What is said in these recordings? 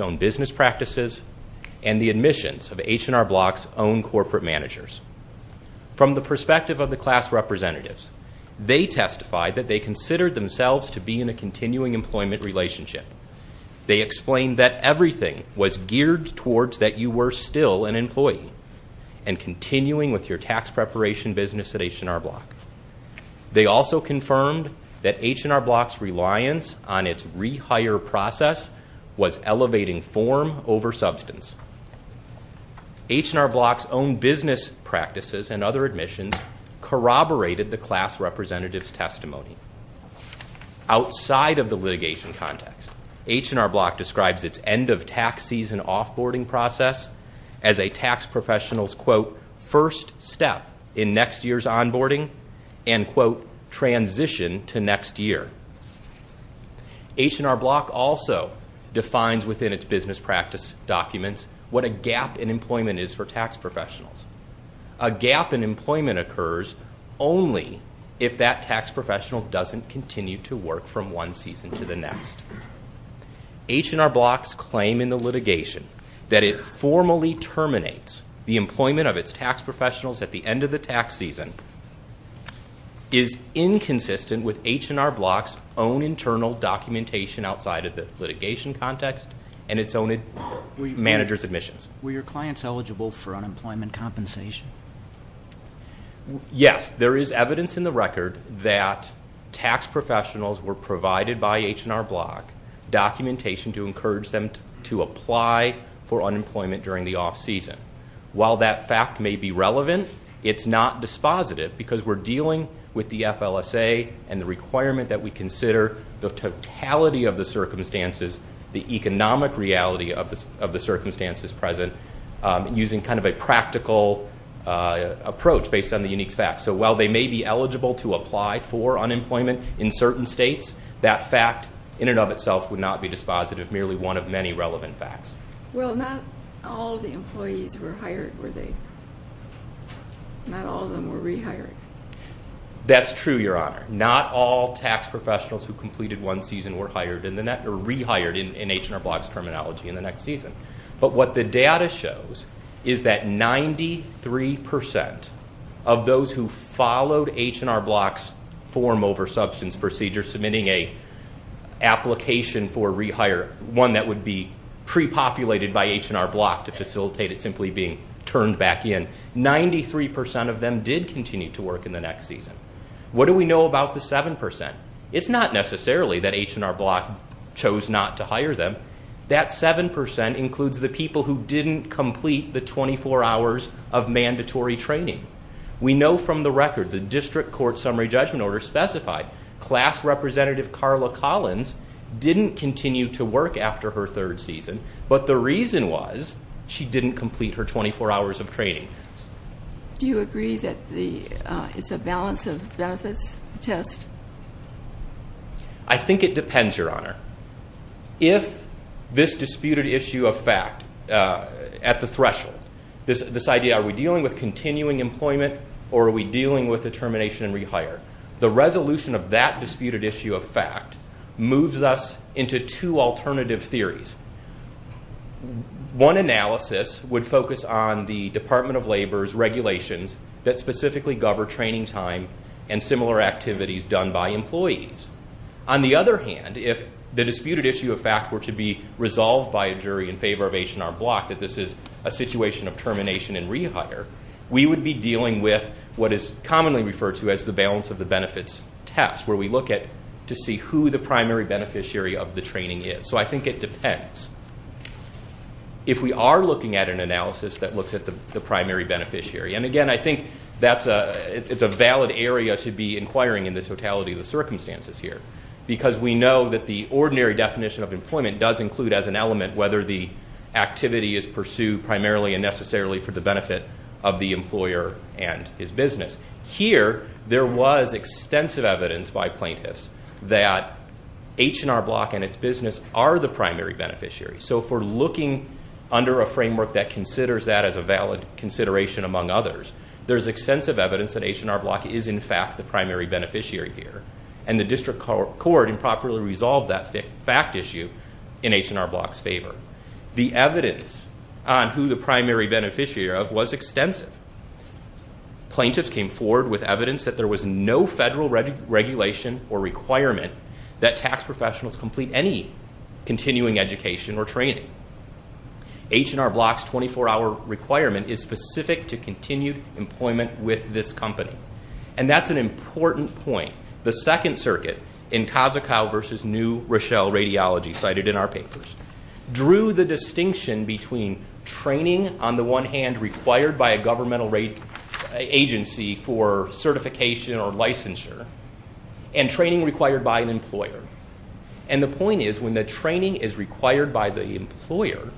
own business practices, and the admissions of H&R Block's own corporate managers. From the perspective of the class representatives, they testified that they considered themselves to be in a continuing employment relationship. They explained that everything was geared towards that you were still an employee and continuing with your tax preparation business at H&R Block. They also confirmed that H&R Block's reliance on its rehire process was elevating form over substance. H&R Block's own business practices and other admissions corroborated the class representative's testimony. Outside of the litigation context, H&R Block describes its end-of-tax-season off-boarding process as a tax professional's quote, first step in next year's on-boarding and quote, transition to next year. H&R Block also defines within its business practice documents what a gap in employment is for tax professionals. A gap in employment occurs only if that tax professional doesn't continue to work from one season to the next. H&R Block's claim in the litigation that it formally terminates the employment of its tax professionals at the end of the tax season is inconsistent with H&R Block's own internal documentation outside of the litigation context and its own manager's admissions. Were your clients eligible for unemployment compensation? Yes. There is evidence in the record that tax professionals were provided by H&R Block documentation to encourage them to apply for unemployment during the off-season. While that fact may be relevant, it's not dispositive because we're dealing with the FLSA and the requirement that we consider the totality of the circumstances, the economic reality of the circumstances present using kind of a practical approach based on the unique facts. So while they may be eligible to apply for unemployment in certain states, that fact in and of itself would not be dispositive, merely one of many relevant facts. Well, not all of the employees were hired, were they? Not all of them were rehired? That's true, Your Honor. Not all tax professionals who completed one season were rehired in H&R Block's terminology in the next season. But what the data shows is that 93% of those who followed H&R Block's form over substance procedure submitting an application for rehire, one that would be pre-populated by H&R Block to facilitate it simply being turned back in, 93% of them did continue to work in the next season. What do we know about the 7%? It's not necessarily that H&R Block chose not to hire them. That 7% includes the people who didn't complete the 24 hours of mandatory training. We know from the record the district court summary judgment order specified class representative Carla Collins didn't continue to work after her third season, but the reason was she didn't complete her 24 hours of training. Do you agree that it's a balance of benefits test? I think it depends, Your Honor. If this disputed issue of fact at the threshold, this idea are we dealing with continuing employment or are we dealing with a termination and rehire, the resolution of that disputed issue of fact moves us into two alternative theories. One analysis would focus on the Department of Labor's regulations that specifically govern training time and similar activities done by employees. On the other hand, if the disputed issue of fact were to be resolved by a jury in favor of H&R Block that this is a situation of termination and rehire, we would be dealing with what is commonly referred to as the balance of the benefits test, where we look to see who the primary beneficiary of the training is. So I think it depends. If we are looking at an analysis that looks at the primary beneficiary, and again, I think it's a valid area to be inquiring in the totality of the circumstances here because we know that the ordinary definition of employment does include as an element whether the activity is pursued primarily and necessarily for the benefit of the employer and his business. Here, there was extensive evidence by plaintiffs that H&R Block and its business are the primary beneficiary. So if we're looking under a framework that considers that as a valid consideration among others, there's extensive evidence that H&R Block is in fact the primary beneficiary here, and the district court improperly resolved that fact issue in H&R Block's favor. The evidence on who the primary beneficiary of was extensive. Plaintiffs came forward with evidence that there was no federal regulation or requirement that tax professionals complete any continuing education or training. H&R Block's 24-hour requirement is specific to continued employment with this company, and that's an important point. The Second Circuit in Kazakow v. New Rochelle Radiology, cited in our papers, drew the distinction between training on the one hand required by a governmental agency for certification or licensure and training required by an employer. And the point is when the training is required by the employer,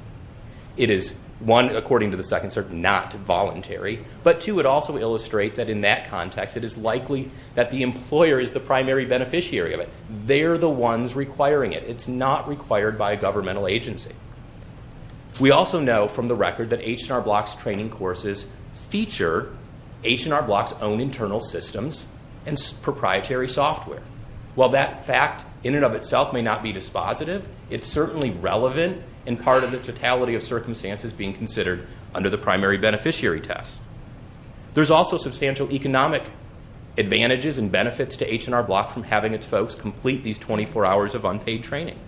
it is one, according to the Second Circuit, not voluntary, but two, it also illustrates that in that context it is likely that the employer is the primary beneficiary of it. They're the ones requiring it. It's not required by a governmental agency. We also know from the record that H&R Block's training courses feature H&R Block's own internal systems and proprietary software. While that fact in and of itself may not be dispositive, it's certainly relevant in part of the totality of circumstances being considered under the primary beneficiary test. There's also substantial economic advantages and benefits to H&R Block from having its folks complete these 24 hours of unpaid training.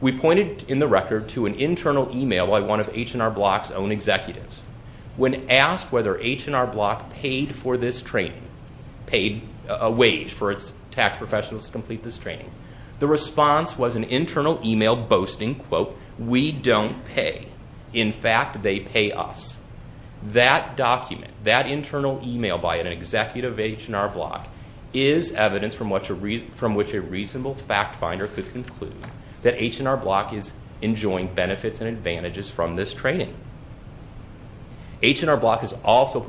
We pointed in the record to an internal email by one of H&R Block's own executives. When asked whether H&R Block paid for this training, paid a wage for its tax professionals to complete this training, the response was an internal email boasting, quote, we don't pay. In fact, they pay us. That document, that internal email by an executive of H&R Block, is evidence from which a reasonable fact finder could conclude that H&R Block is enjoying benefits and advantages from this training. H&R Block is also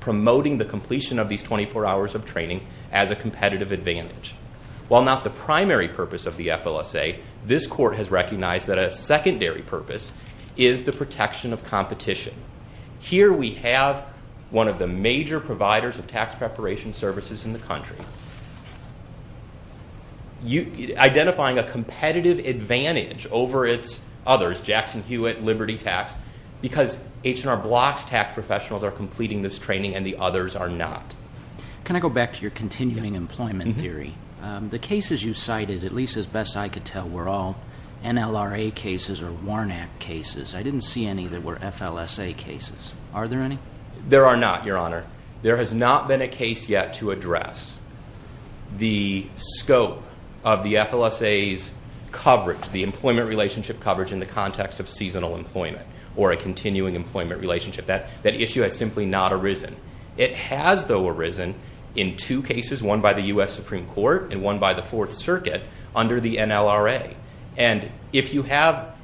promoting the completion of these 24 hours of training as a competitive advantage. While not the primary purpose of the FLSA, this court has recognized that a secondary purpose is the protection of competition. Here we have one of the major providers of tax preparation services in the country. Identifying a competitive advantage over its others, Jackson Hewitt, Liberty Tax, because H&R Block's tax professionals are completing this training and the others are not. Can I go back to your continuing employment theory? The cases you cited, at least as best I could tell, were all NLRA cases or Warnak cases. I didn't see any that were FLSA cases. Are there any? There are not, Your Honor. There has not been a case yet to address. the scope of the FLSA's coverage, the employment relationship coverage in the context of seasonal employment or a continuing employment relationship. That issue has simply not arisen. It has, though, arisen in two cases, one by the U.S. Supreme Court and one by the Fourth Circuit under the NLRA. If you have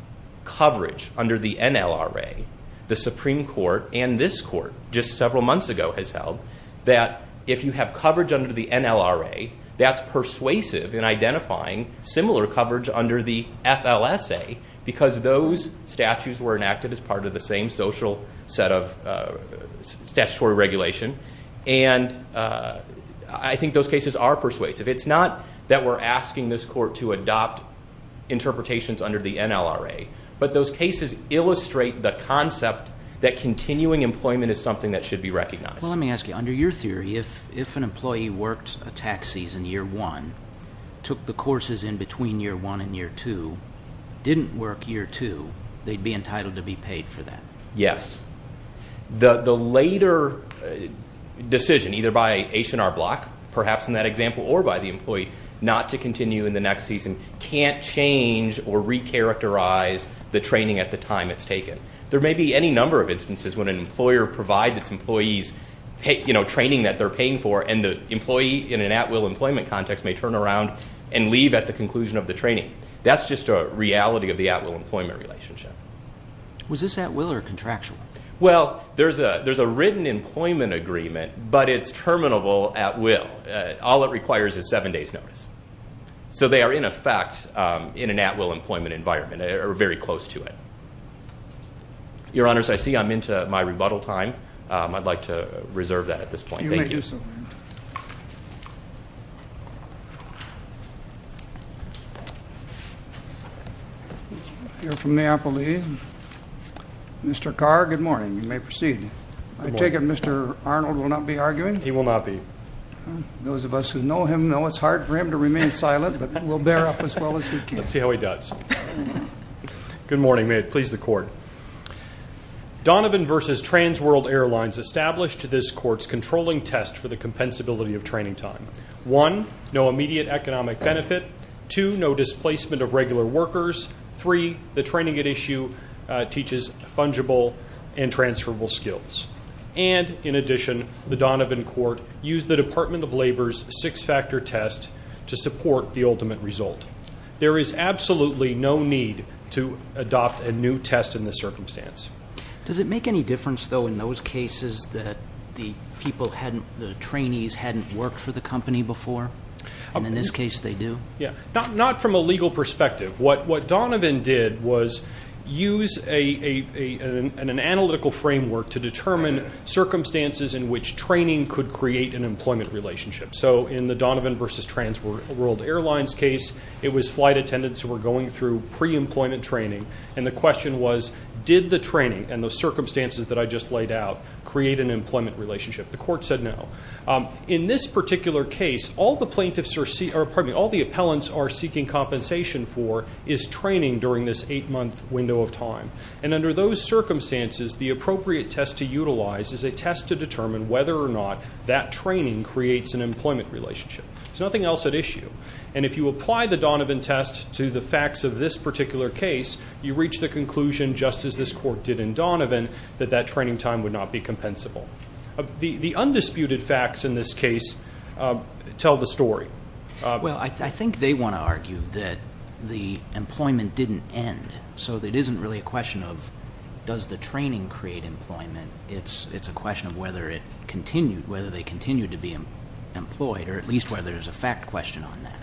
coverage under the NLRA, the Supreme Court and this court just several months ago has held that if you have coverage under the NLRA, that's persuasive in identifying similar coverage under the FLSA because those statutes were enacted as part of the same social set of statutory regulation. And I think those cases are persuasive. It's not that we're asking this court to adopt interpretations under the NLRA, but those cases illustrate the concept that continuing employment is something that should be recognized. Well, let me ask you, under your theory, if an employee worked a tax season year one, took the courses in between year one and year two, didn't work year two, they'd be entitled to be paid for that. Yes. The later decision, either by H&R Block, perhaps in that example, or by the employee not to continue in the next season can't change or recharacterize the training at the time it's taken. There may be any number of instances when an employer provides its employees training that they're paying for and the employee in an at-will employment context may turn around and leave at the conclusion of the training. That's just a reality of the at-will employment relationship. Was this at-will or contractual? Well, there's a written employment agreement, but it's terminable at-will. All it requires is seven days' notice. So they are, in effect, in an at-will employment environment. They are very close to it. Your Honors, I see I'm into my rebuttal time. I'd like to reserve that at this point. Thank you. You may do so. I hear from the appellee. Mr. Carr, good morning. You may proceed. I take it Mr. Arnold will not be arguing? He will not be. Those of us who know him know it's hard for him to remain silent, but we'll bear up as well as we can. Let's see how he does. Good morning. May it please the Court. Donovan v. Trans World Airlines established this Court's controlling test for the compensability of training time. One, no immediate economic benefit. Two, no displacement of regular workers. Three, the training at issue teaches fungible and transferable skills. And, in addition, the Donovan Court used the Department of Labor's six-factor test to support the ultimate result. There is absolutely no need to adopt a new test in this circumstance. Does it make any difference, though, in those cases that the people hadn't, the trainees hadn't worked for the company before? In this case, they do. Not from a legal perspective. What Donovan did was use an analytical framework to determine circumstances in which training could create an employment relationship. So, in the Donovan v. Trans World Airlines case, it was flight attendants who were going through pre-employment training, and the question was, did the training and the circumstances that I just laid out create an employment relationship? The Court said no. In this particular case, all the plaintiffs are seeking or, pardon me, all the appellants are seeking compensation for is training during this eight-month window of time. And under those circumstances, the appropriate test to utilize is a test to determine whether or not that training creates an employment relationship. There's nothing else at issue. And if you apply the Donovan test to the facts of this particular case, you reach the conclusion, just as this Court did in Donovan, that that training time would not be compensable. The undisputed facts in this case tell the story. Well, I think they want to argue that the employment didn't end. So it isn't really a question of, does the training create employment? It's a question of whether they continue to be employed, or at least whether there's a fact question on that.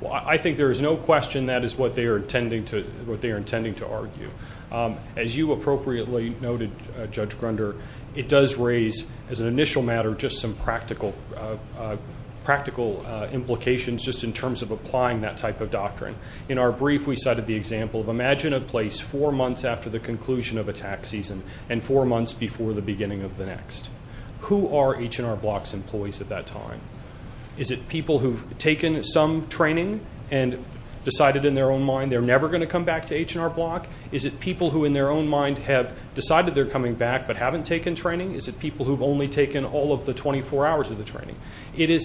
Well, I think there is no question that is what they are intending to argue. As you appropriately noted, Judge Grunder, it does raise, as an initial matter, just some practical implications just in terms of applying that type of doctrine. In our brief, we cited the example of imagine a place four months after the conclusion of a tax season and four months before the beginning of the next. Who are H&R Block's employees at that time? Is it people who've taken some training and decided in their own mind they're never going to come back to H&R Block? Is it people who in their own mind have decided they're coming back but haven't taken training? Is it people who've only taken all of the 24 hours of the training? It is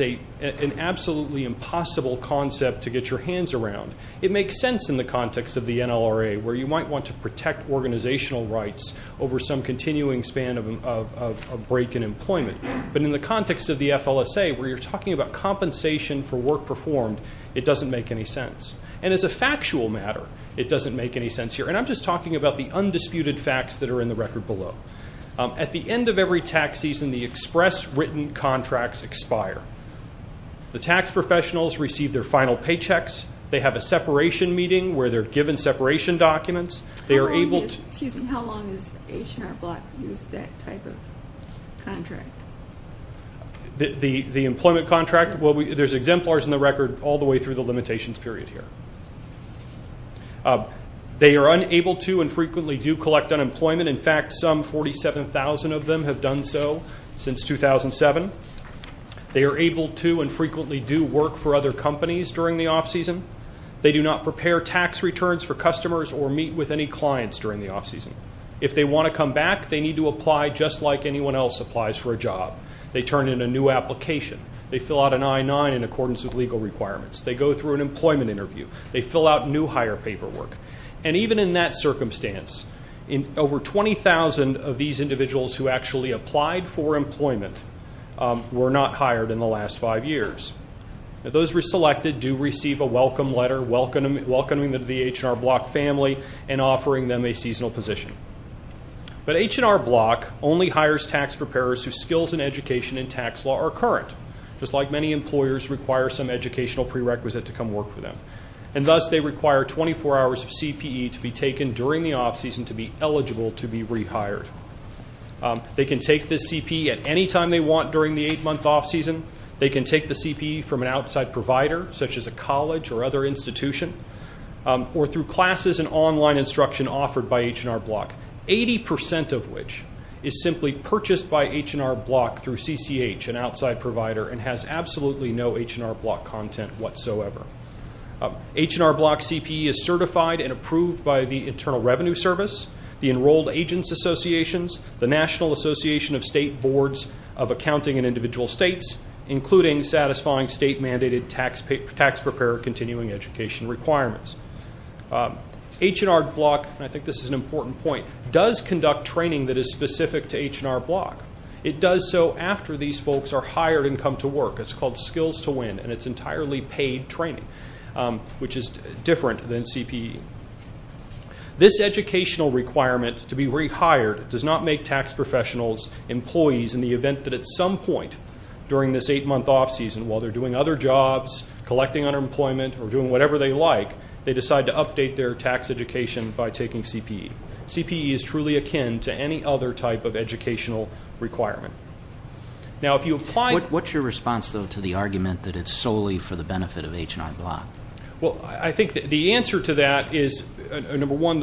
an absolutely impossible concept to get your hands around. It makes sense in the context of the NLRA, where you might want to protect organizational rights over some continuing span of a break in employment. But in the context of the FLSA, where you're talking about compensation for work performed, it doesn't make any sense. And as a factual matter, it doesn't make any sense here. And I'm just talking about the undisputed facts that are in the record below. At the end of every tax season, the express written contracts expire. The tax professionals receive their final paychecks. They have a separation meeting where they're given separation documents. How long is H&R Block using that type of contract? The employment contract? Well, there's exemplars in the record all the way through the limitations period here. They are unable to and frequently do collect unemployment. In fact, some 47,000 of them have done so since 2007. They are able to and frequently do work for other companies during the off-season. They do not prepare tax returns for customers or meet with any clients during the off-season. If they want to come back, they need to apply just like anyone else applies for a job. They turn in a new application. They fill out an I-9 in accordance with legal requirements. They go through an employment interview. They fill out new hire paperwork. And even in that circumstance, over 20,000 of these individuals who actually applied for employment were not hired in the last five years. Those who were selected do receive a welcome letter welcoming them to the H&R Block family and offering them a seasonal position. But H&R Block only hires tax preparers whose skills in education and tax law are current, just like many employers require some educational prerequisite to come work for them. And thus, they require 24 hours of CPE to be taken during the off-season to be eligible to be rehired. They can take this CPE at any time they want during the eight-month off-season. They can take the CPE from an outside provider, such as a college or other institution, or through classes and online instruction offered by H&R Block, 80 percent of which is simply purchased by H&R Block through CCH, an outside provider, and has absolutely no H&R Block content whatsoever. H&R Block CPE is certified and approved by the Internal Revenue Service, the Enrolled Agents Associations, the National Association of State Boards of Accounting and Individual States, including satisfying state-mandated tax preparer continuing education requirements. H&R Block, and I think this is an important point, does conduct training that is specific to H&R Block. It does so after these folks are hired and come to work. It's called Skills to Win, and it's entirely paid training, which is different than CPE. This educational requirement to be rehired does not make tax professionals, employees, in the event that at some point during this eight-month off-season, while they're doing other jobs, collecting unemployment, or doing whatever they like, they decide to update their tax education by taking CPE. CPE is truly akin to any other type of educational requirement. Now, if you apply to- What's your response, though, to the argument that it's solely for the benefit of H&R Block? Well, I think the answer to that is, number one,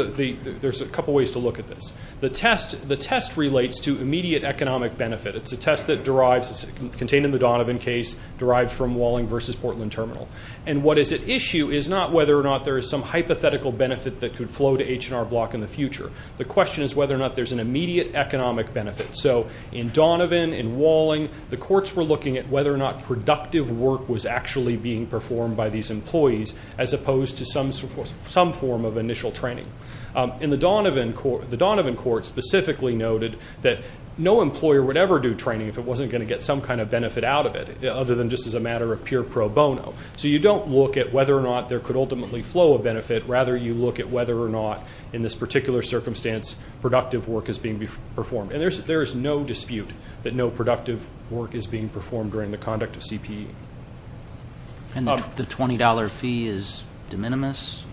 there's a couple ways to look at this. The test relates to immediate economic benefit. It's a test that derives, contained in the Donovan case, derived from Walling v. Portland Terminal. And what is at issue is not whether or not there is some hypothetical benefit that could flow to H&R Block in the future. The question is whether or not there's an immediate economic benefit. So in Donovan, in Walling, the courts were looking at whether or not productive work was actually being performed by these employees, as opposed to some form of initial training. In the Donovan court, specifically noted that no employer would ever do training if it wasn't going to get some kind of benefit out of it, other than just as a matter of pure pro bono. So you don't look at whether or not there could ultimately flow a benefit. Rather, you look at whether or not, in this particular circumstance, productive work is being performed. And there is no dispute that no productive work is being performed during the conduct of CPE. And the $20 fee is de minimis?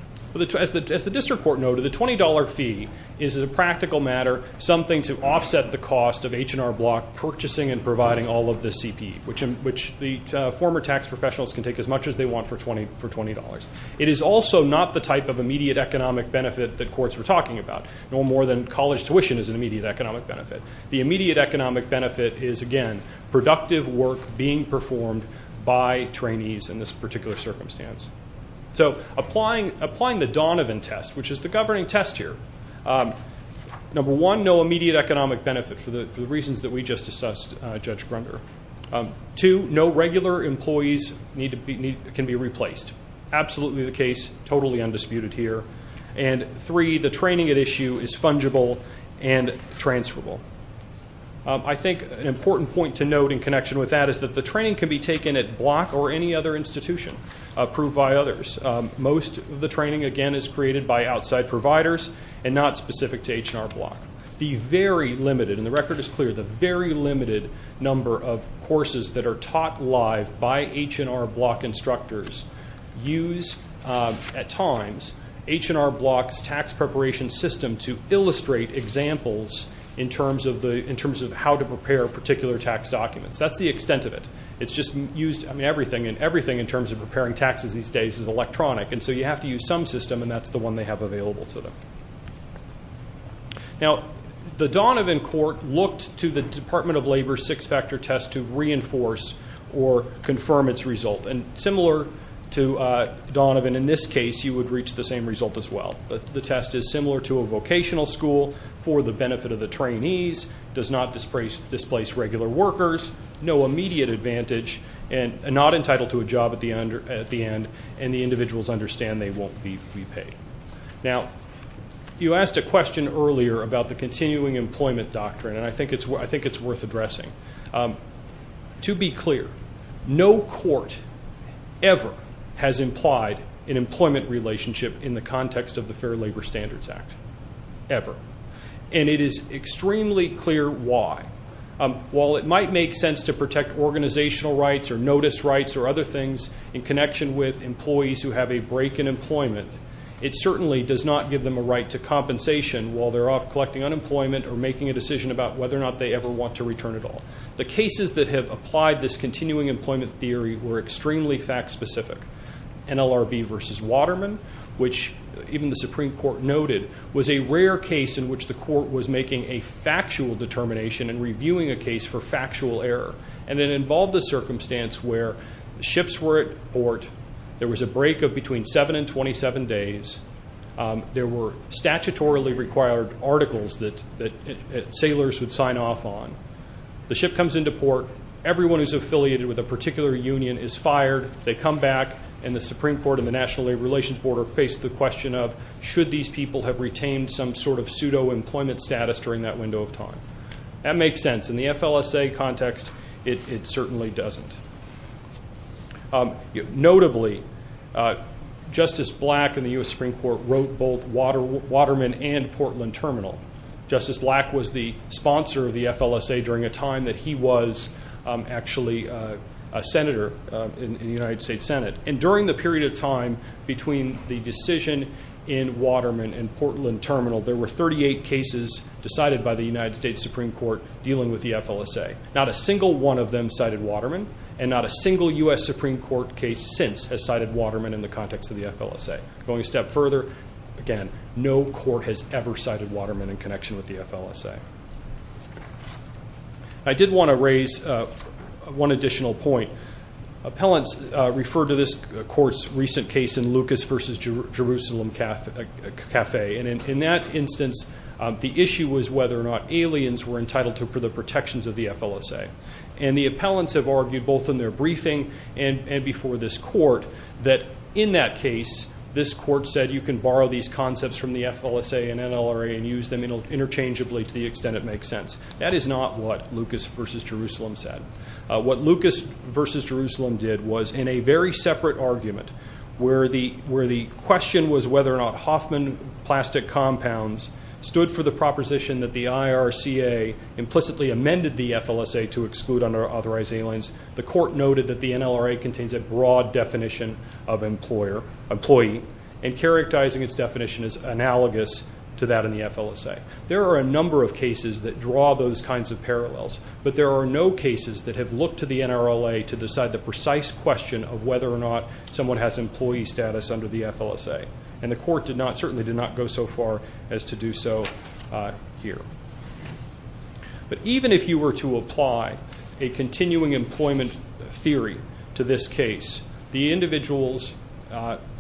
As the district court noted, the $20 fee is, as a practical matter, something to offset the cost of H&R Block purchasing and providing all of the CPE, which the former tax professionals can take as much as they want for $20. It is also not the type of immediate economic benefit that courts were talking about, no more than college tuition is an immediate economic benefit. The immediate economic benefit is, again, productive work being performed by trainees in this particular circumstance. So applying the Donovan test, which is the governing test here, number one, no immediate economic benefit for the reasons that we just assessed, Judge Grunder. Two, no regular employees can be replaced. Absolutely the case. Totally undisputed here. And three, the training at issue is fungible and transferable. I think an important point to note in connection with that is that the training can be taken at Block or any other institution approved by others. Most of the training, again, is created by outside providers and not specific to H&R Block. The very limited, and the record is clear, the very limited number of courses that are taught live by H&R Block instructors use, at times, H&R Block's tax preparation system to illustrate examples in terms of how to prepare particular tax documents. That's the extent of it. It's just used, I mean, everything in terms of preparing taxes these days is electronic, and so you have to use some system, and that's the one they have available to them. Now, the Donovan Court looked to the Department of Labor's six-factor test to reinforce or confirm its result, and similar to Donovan in this case, you would reach the same result as well. The test is similar to a vocational school for the benefit of the trainees, does not displace regular workers, no immediate advantage, and not entitled to a job at the end, and the individuals understand they won't be paid. Now, you asked a question earlier about the continuing employment doctrine, and I think it's worth addressing. To be clear, no court ever has implied an employment relationship in the context of the Fair Labor Standards Act, ever. And it is extremely clear why. While it might make sense to protect organizational rights or notice rights or other things in connection with employees who have a break in employment, it certainly does not give them a right to compensation while they're off collecting unemployment or making a decision about whether or not they ever want to return at all. The cases that have applied this continuing employment theory were extremely fact-specific. NLRB v. Waterman, which even the Supreme Court noted, was a rare case in which the court was making a factual determination and reviewing a case for factual error, and it involved a circumstance where the ships were at port. There was a break of between seven and 27 days. There were statutorily required articles that sailors would sign off on. The ship comes into port. Everyone who's affiliated with a particular union is fired. They come back, and the Supreme Court and the National Labor Relations Board are faced with the question of should these people have retained some sort of pseudo-employment status during that window of time. That makes sense. In the FLSA context, it certainly doesn't. Notably, Justice Black in the U.S. Supreme Court wrote both Waterman and Portland Terminal. Justice Black was the sponsor of the FLSA during a time that he was actually a senator in the United States Senate. And during the period of time between the decision in Waterman and Portland Terminal, there were 38 cases decided by the United States Supreme Court dealing with the FLSA. Not a single one of them cited Waterman, and not a single U.S. Supreme Court case since has cited Waterman in the context of the FLSA. Going a step further, again, no court has ever cited Waterman in connection with the FLSA. I did want to raise one additional point. Appellants refer to this court's recent case in Lucas v. Jerusalem Cafe. And in that instance, the issue was whether or not aliens were entitled to the protections of the FLSA. And the appellants have argued both in their briefing and before this court that in that case, this court said you can borrow these concepts from the FLSA and NLRA and use them interchangeably to the extent it makes sense. That is not what Lucas v. Jerusalem said. What Lucas v. Jerusalem did was, in a very separate argument, where the question was whether or not Hoffman plastic compounds stood for the proposition that the IRCA implicitly amended the FLSA to exclude unauthorized aliens, the court noted that the NLRA contains a broad definition of employee and characterizing its definition as analogous to that in the FLSA. There are a number of cases that draw those kinds of parallels, but there are no cases that have looked to the NLRA to decide the precise question of whether or not someone has employee status under the FLSA. And the court certainly did not go so far as to do so here. But even if you were to apply a continuing employment theory to this case, the individuals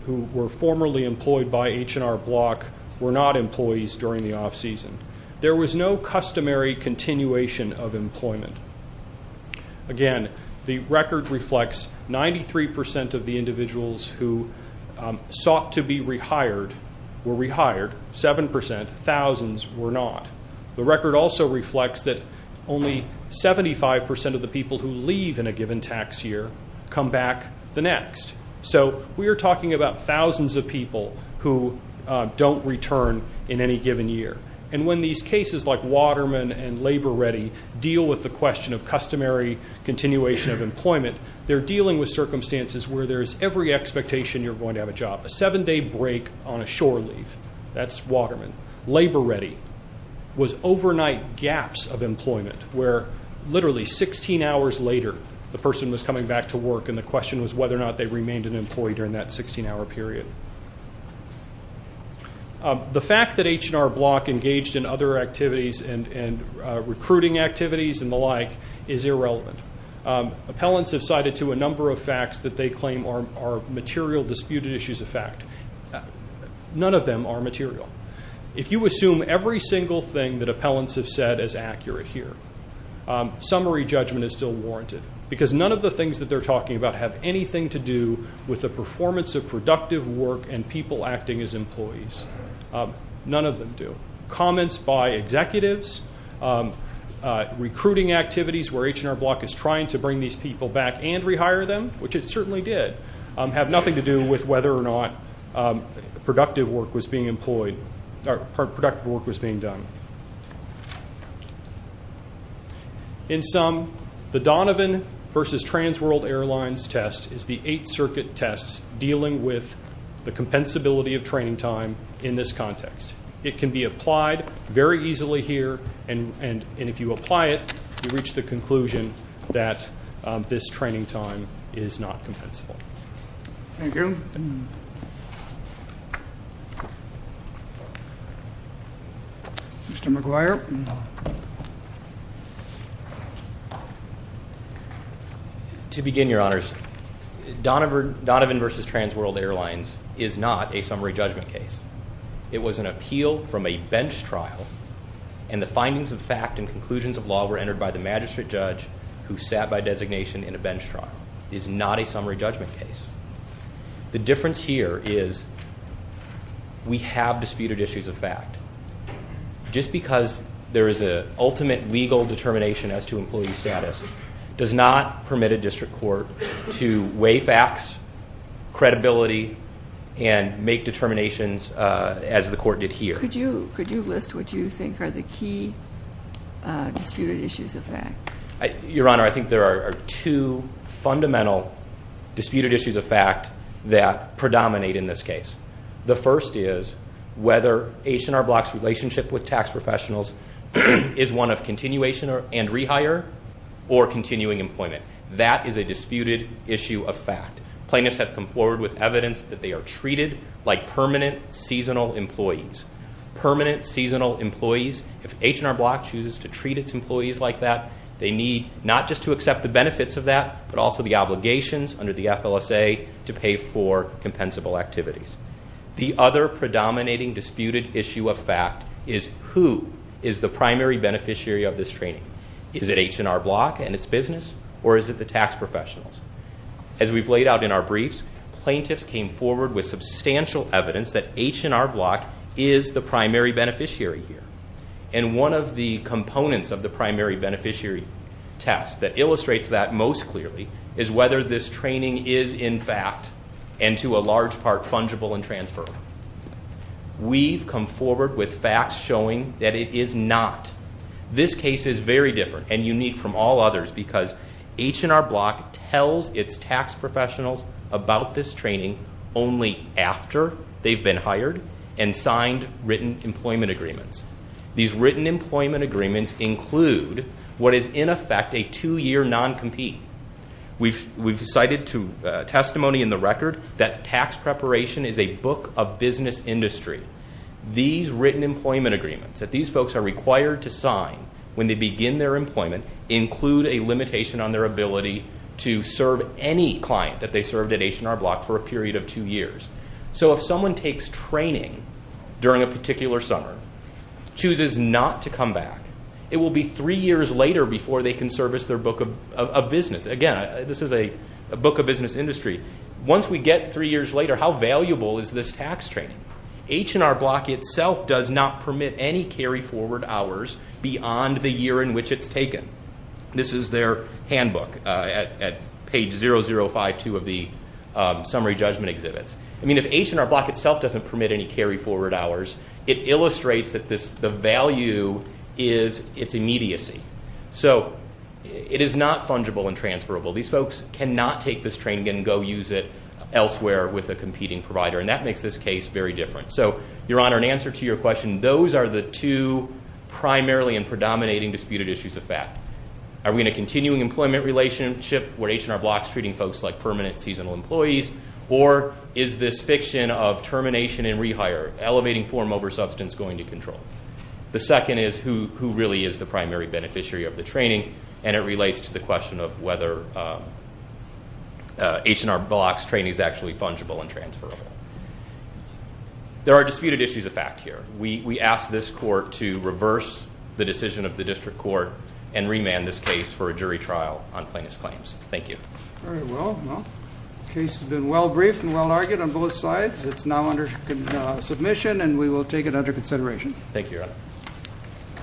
who were formerly employed by H&R Block were not employees during the off-season. There was no customary continuation of employment. Again, the record reflects 93 percent of the individuals who sought to be rehired were rehired, 7 percent, thousands were not. The record also reflects that only 75 percent of the people who leave in a given tax year come back the next. So we are talking about thousands of people who don't return in any given year. And when these cases like Waterman and Labor Ready deal with the question of customary continuation of employment, they're dealing with circumstances where there's every expectation you're going to have a job. A seven-day break on a shore leave, that's Waterman. Labor Ready was overnight gaps of employment where literally 16 hours later, the person was coming back to work and the question was whether or not they remained an employee during that 16-hour period. The fact that H&R Block engaged in other activities and recruiting activities and the like is irrelevant. Appellants have cited to a number of facts that they claim are material disputed issues of fact. None of them are material. If you assume every single thing that appellants have said is accurate here, summary judgment is still warranted because none of the things that they're talking about have anything to do with the performance of productive work and people acting as employees. None of them do. Comments by executives, recruiting activities where H&R Block is trying to bring these people back and rehire them, which it certainly did, have nothing to do with whether or not productive work was being employed or productive work was being done. In sum, the Donovan versus Transworld Airlines test is the eight-circuit test dealing with the compensability of training time in this context. It can be applied very easily here, and if you apply it, you reach the conclusion that this training time is not compensable. Thank you. Mr. McGuire. To begin, Your Honors, Donovan versus Transworld Airlines is not a summary judgment case. It was an appeal from a bench trial, and the findings of fact and conclusions of law were entered by the magistrate judge who sat by designation in a bench trial. It is not a summary judgment case. The difference here is we have disputed issues of fact. Just because there is an ultimate legal determination as to employee status does not permit a district court to weigh facts, credibility, and make determinations as the court did here. Could you list what you think are the key disputed issues of fact? Your Honor, I think there are two fundamental disputed issues of fact that predominate in this case. The first is whether H&R Block's relationship with tax professionals is one of continuation and rehire or continuing employment. That is a disputed issue of fact. Plaintiffs have come forward with evidence that they are treated like permanent seasonal employees. Permanent seasonal employees, if H&R Block chooses to treat its employees like that, they need not just to accept the benefits of that but also the obligations under the FLSA to pay for compensable activities. The other predominating disputed issue of fact is who is the primary beneficiary of this training. Is it H&R Block and its business, or is it the tax professionals? As we've laid out in our briefs, plaintiffs came forward with substantial evidence that H&R Block is the primary beneficiary here. And one of the components of the primary beneficiary test that illustrates that most clearly is whether this training is, in fact, and to a large part, fungible and transferable. We've come forward with facts showing that it is not. This case is very different and unique from all others because H&R Block tells its tax professionals about this training only after they've been hired and signed written employment agreements. These written employment agreements include what is, in effect, a two-year non-compete. We've cited testimony in the record that tax preparation is a book of business industry. These written employment agreements that these folks are required to sign when they begin their employment include a limitation on their ability to serve any client that they served at H&R Block for a period of two years. So if someone takes training during a particular summer, chooses not to come back, it will be three years later before they can service their book of business. Again, this is a book of business industry. Once we get three years later, how valuable is this tax training? H&R Block itself does not permit any carry-forward hours beyond the year in which it's taken. This is their handbook at page 0052 of the summary judgment exhibits. I mean, if H&R Block itself doesn't permit any carry-forward hours, it illustrates that the value is its immediacy. So it is not fungible and transferable. These folks cannot take this training and go use it elsewhere with a competing provider, and that makes this case very different. So, Your Honor, in answer to your question, those are the two primarily and predominating disputed issues of fact. Are we in a continuing employment relationship where H&R Block is treating folks like permanent seasonal employees, or is this fiction of termination and rehire, elevating form over substance, going to control? The second is who really is the primary beneficiary of the training, and it relates to the question of whether H&R Block's training is actually fungible and transferable. There are disputed issues of fact here. We ask this court to reverse the decision of the district court and remand this case for a jury trial on plaintiff's claims. Thank you. Very well. The case has been well-briefed and well-argued on both sides. It's now under submission, and we will take it under consideration. Thank you, Your Honor.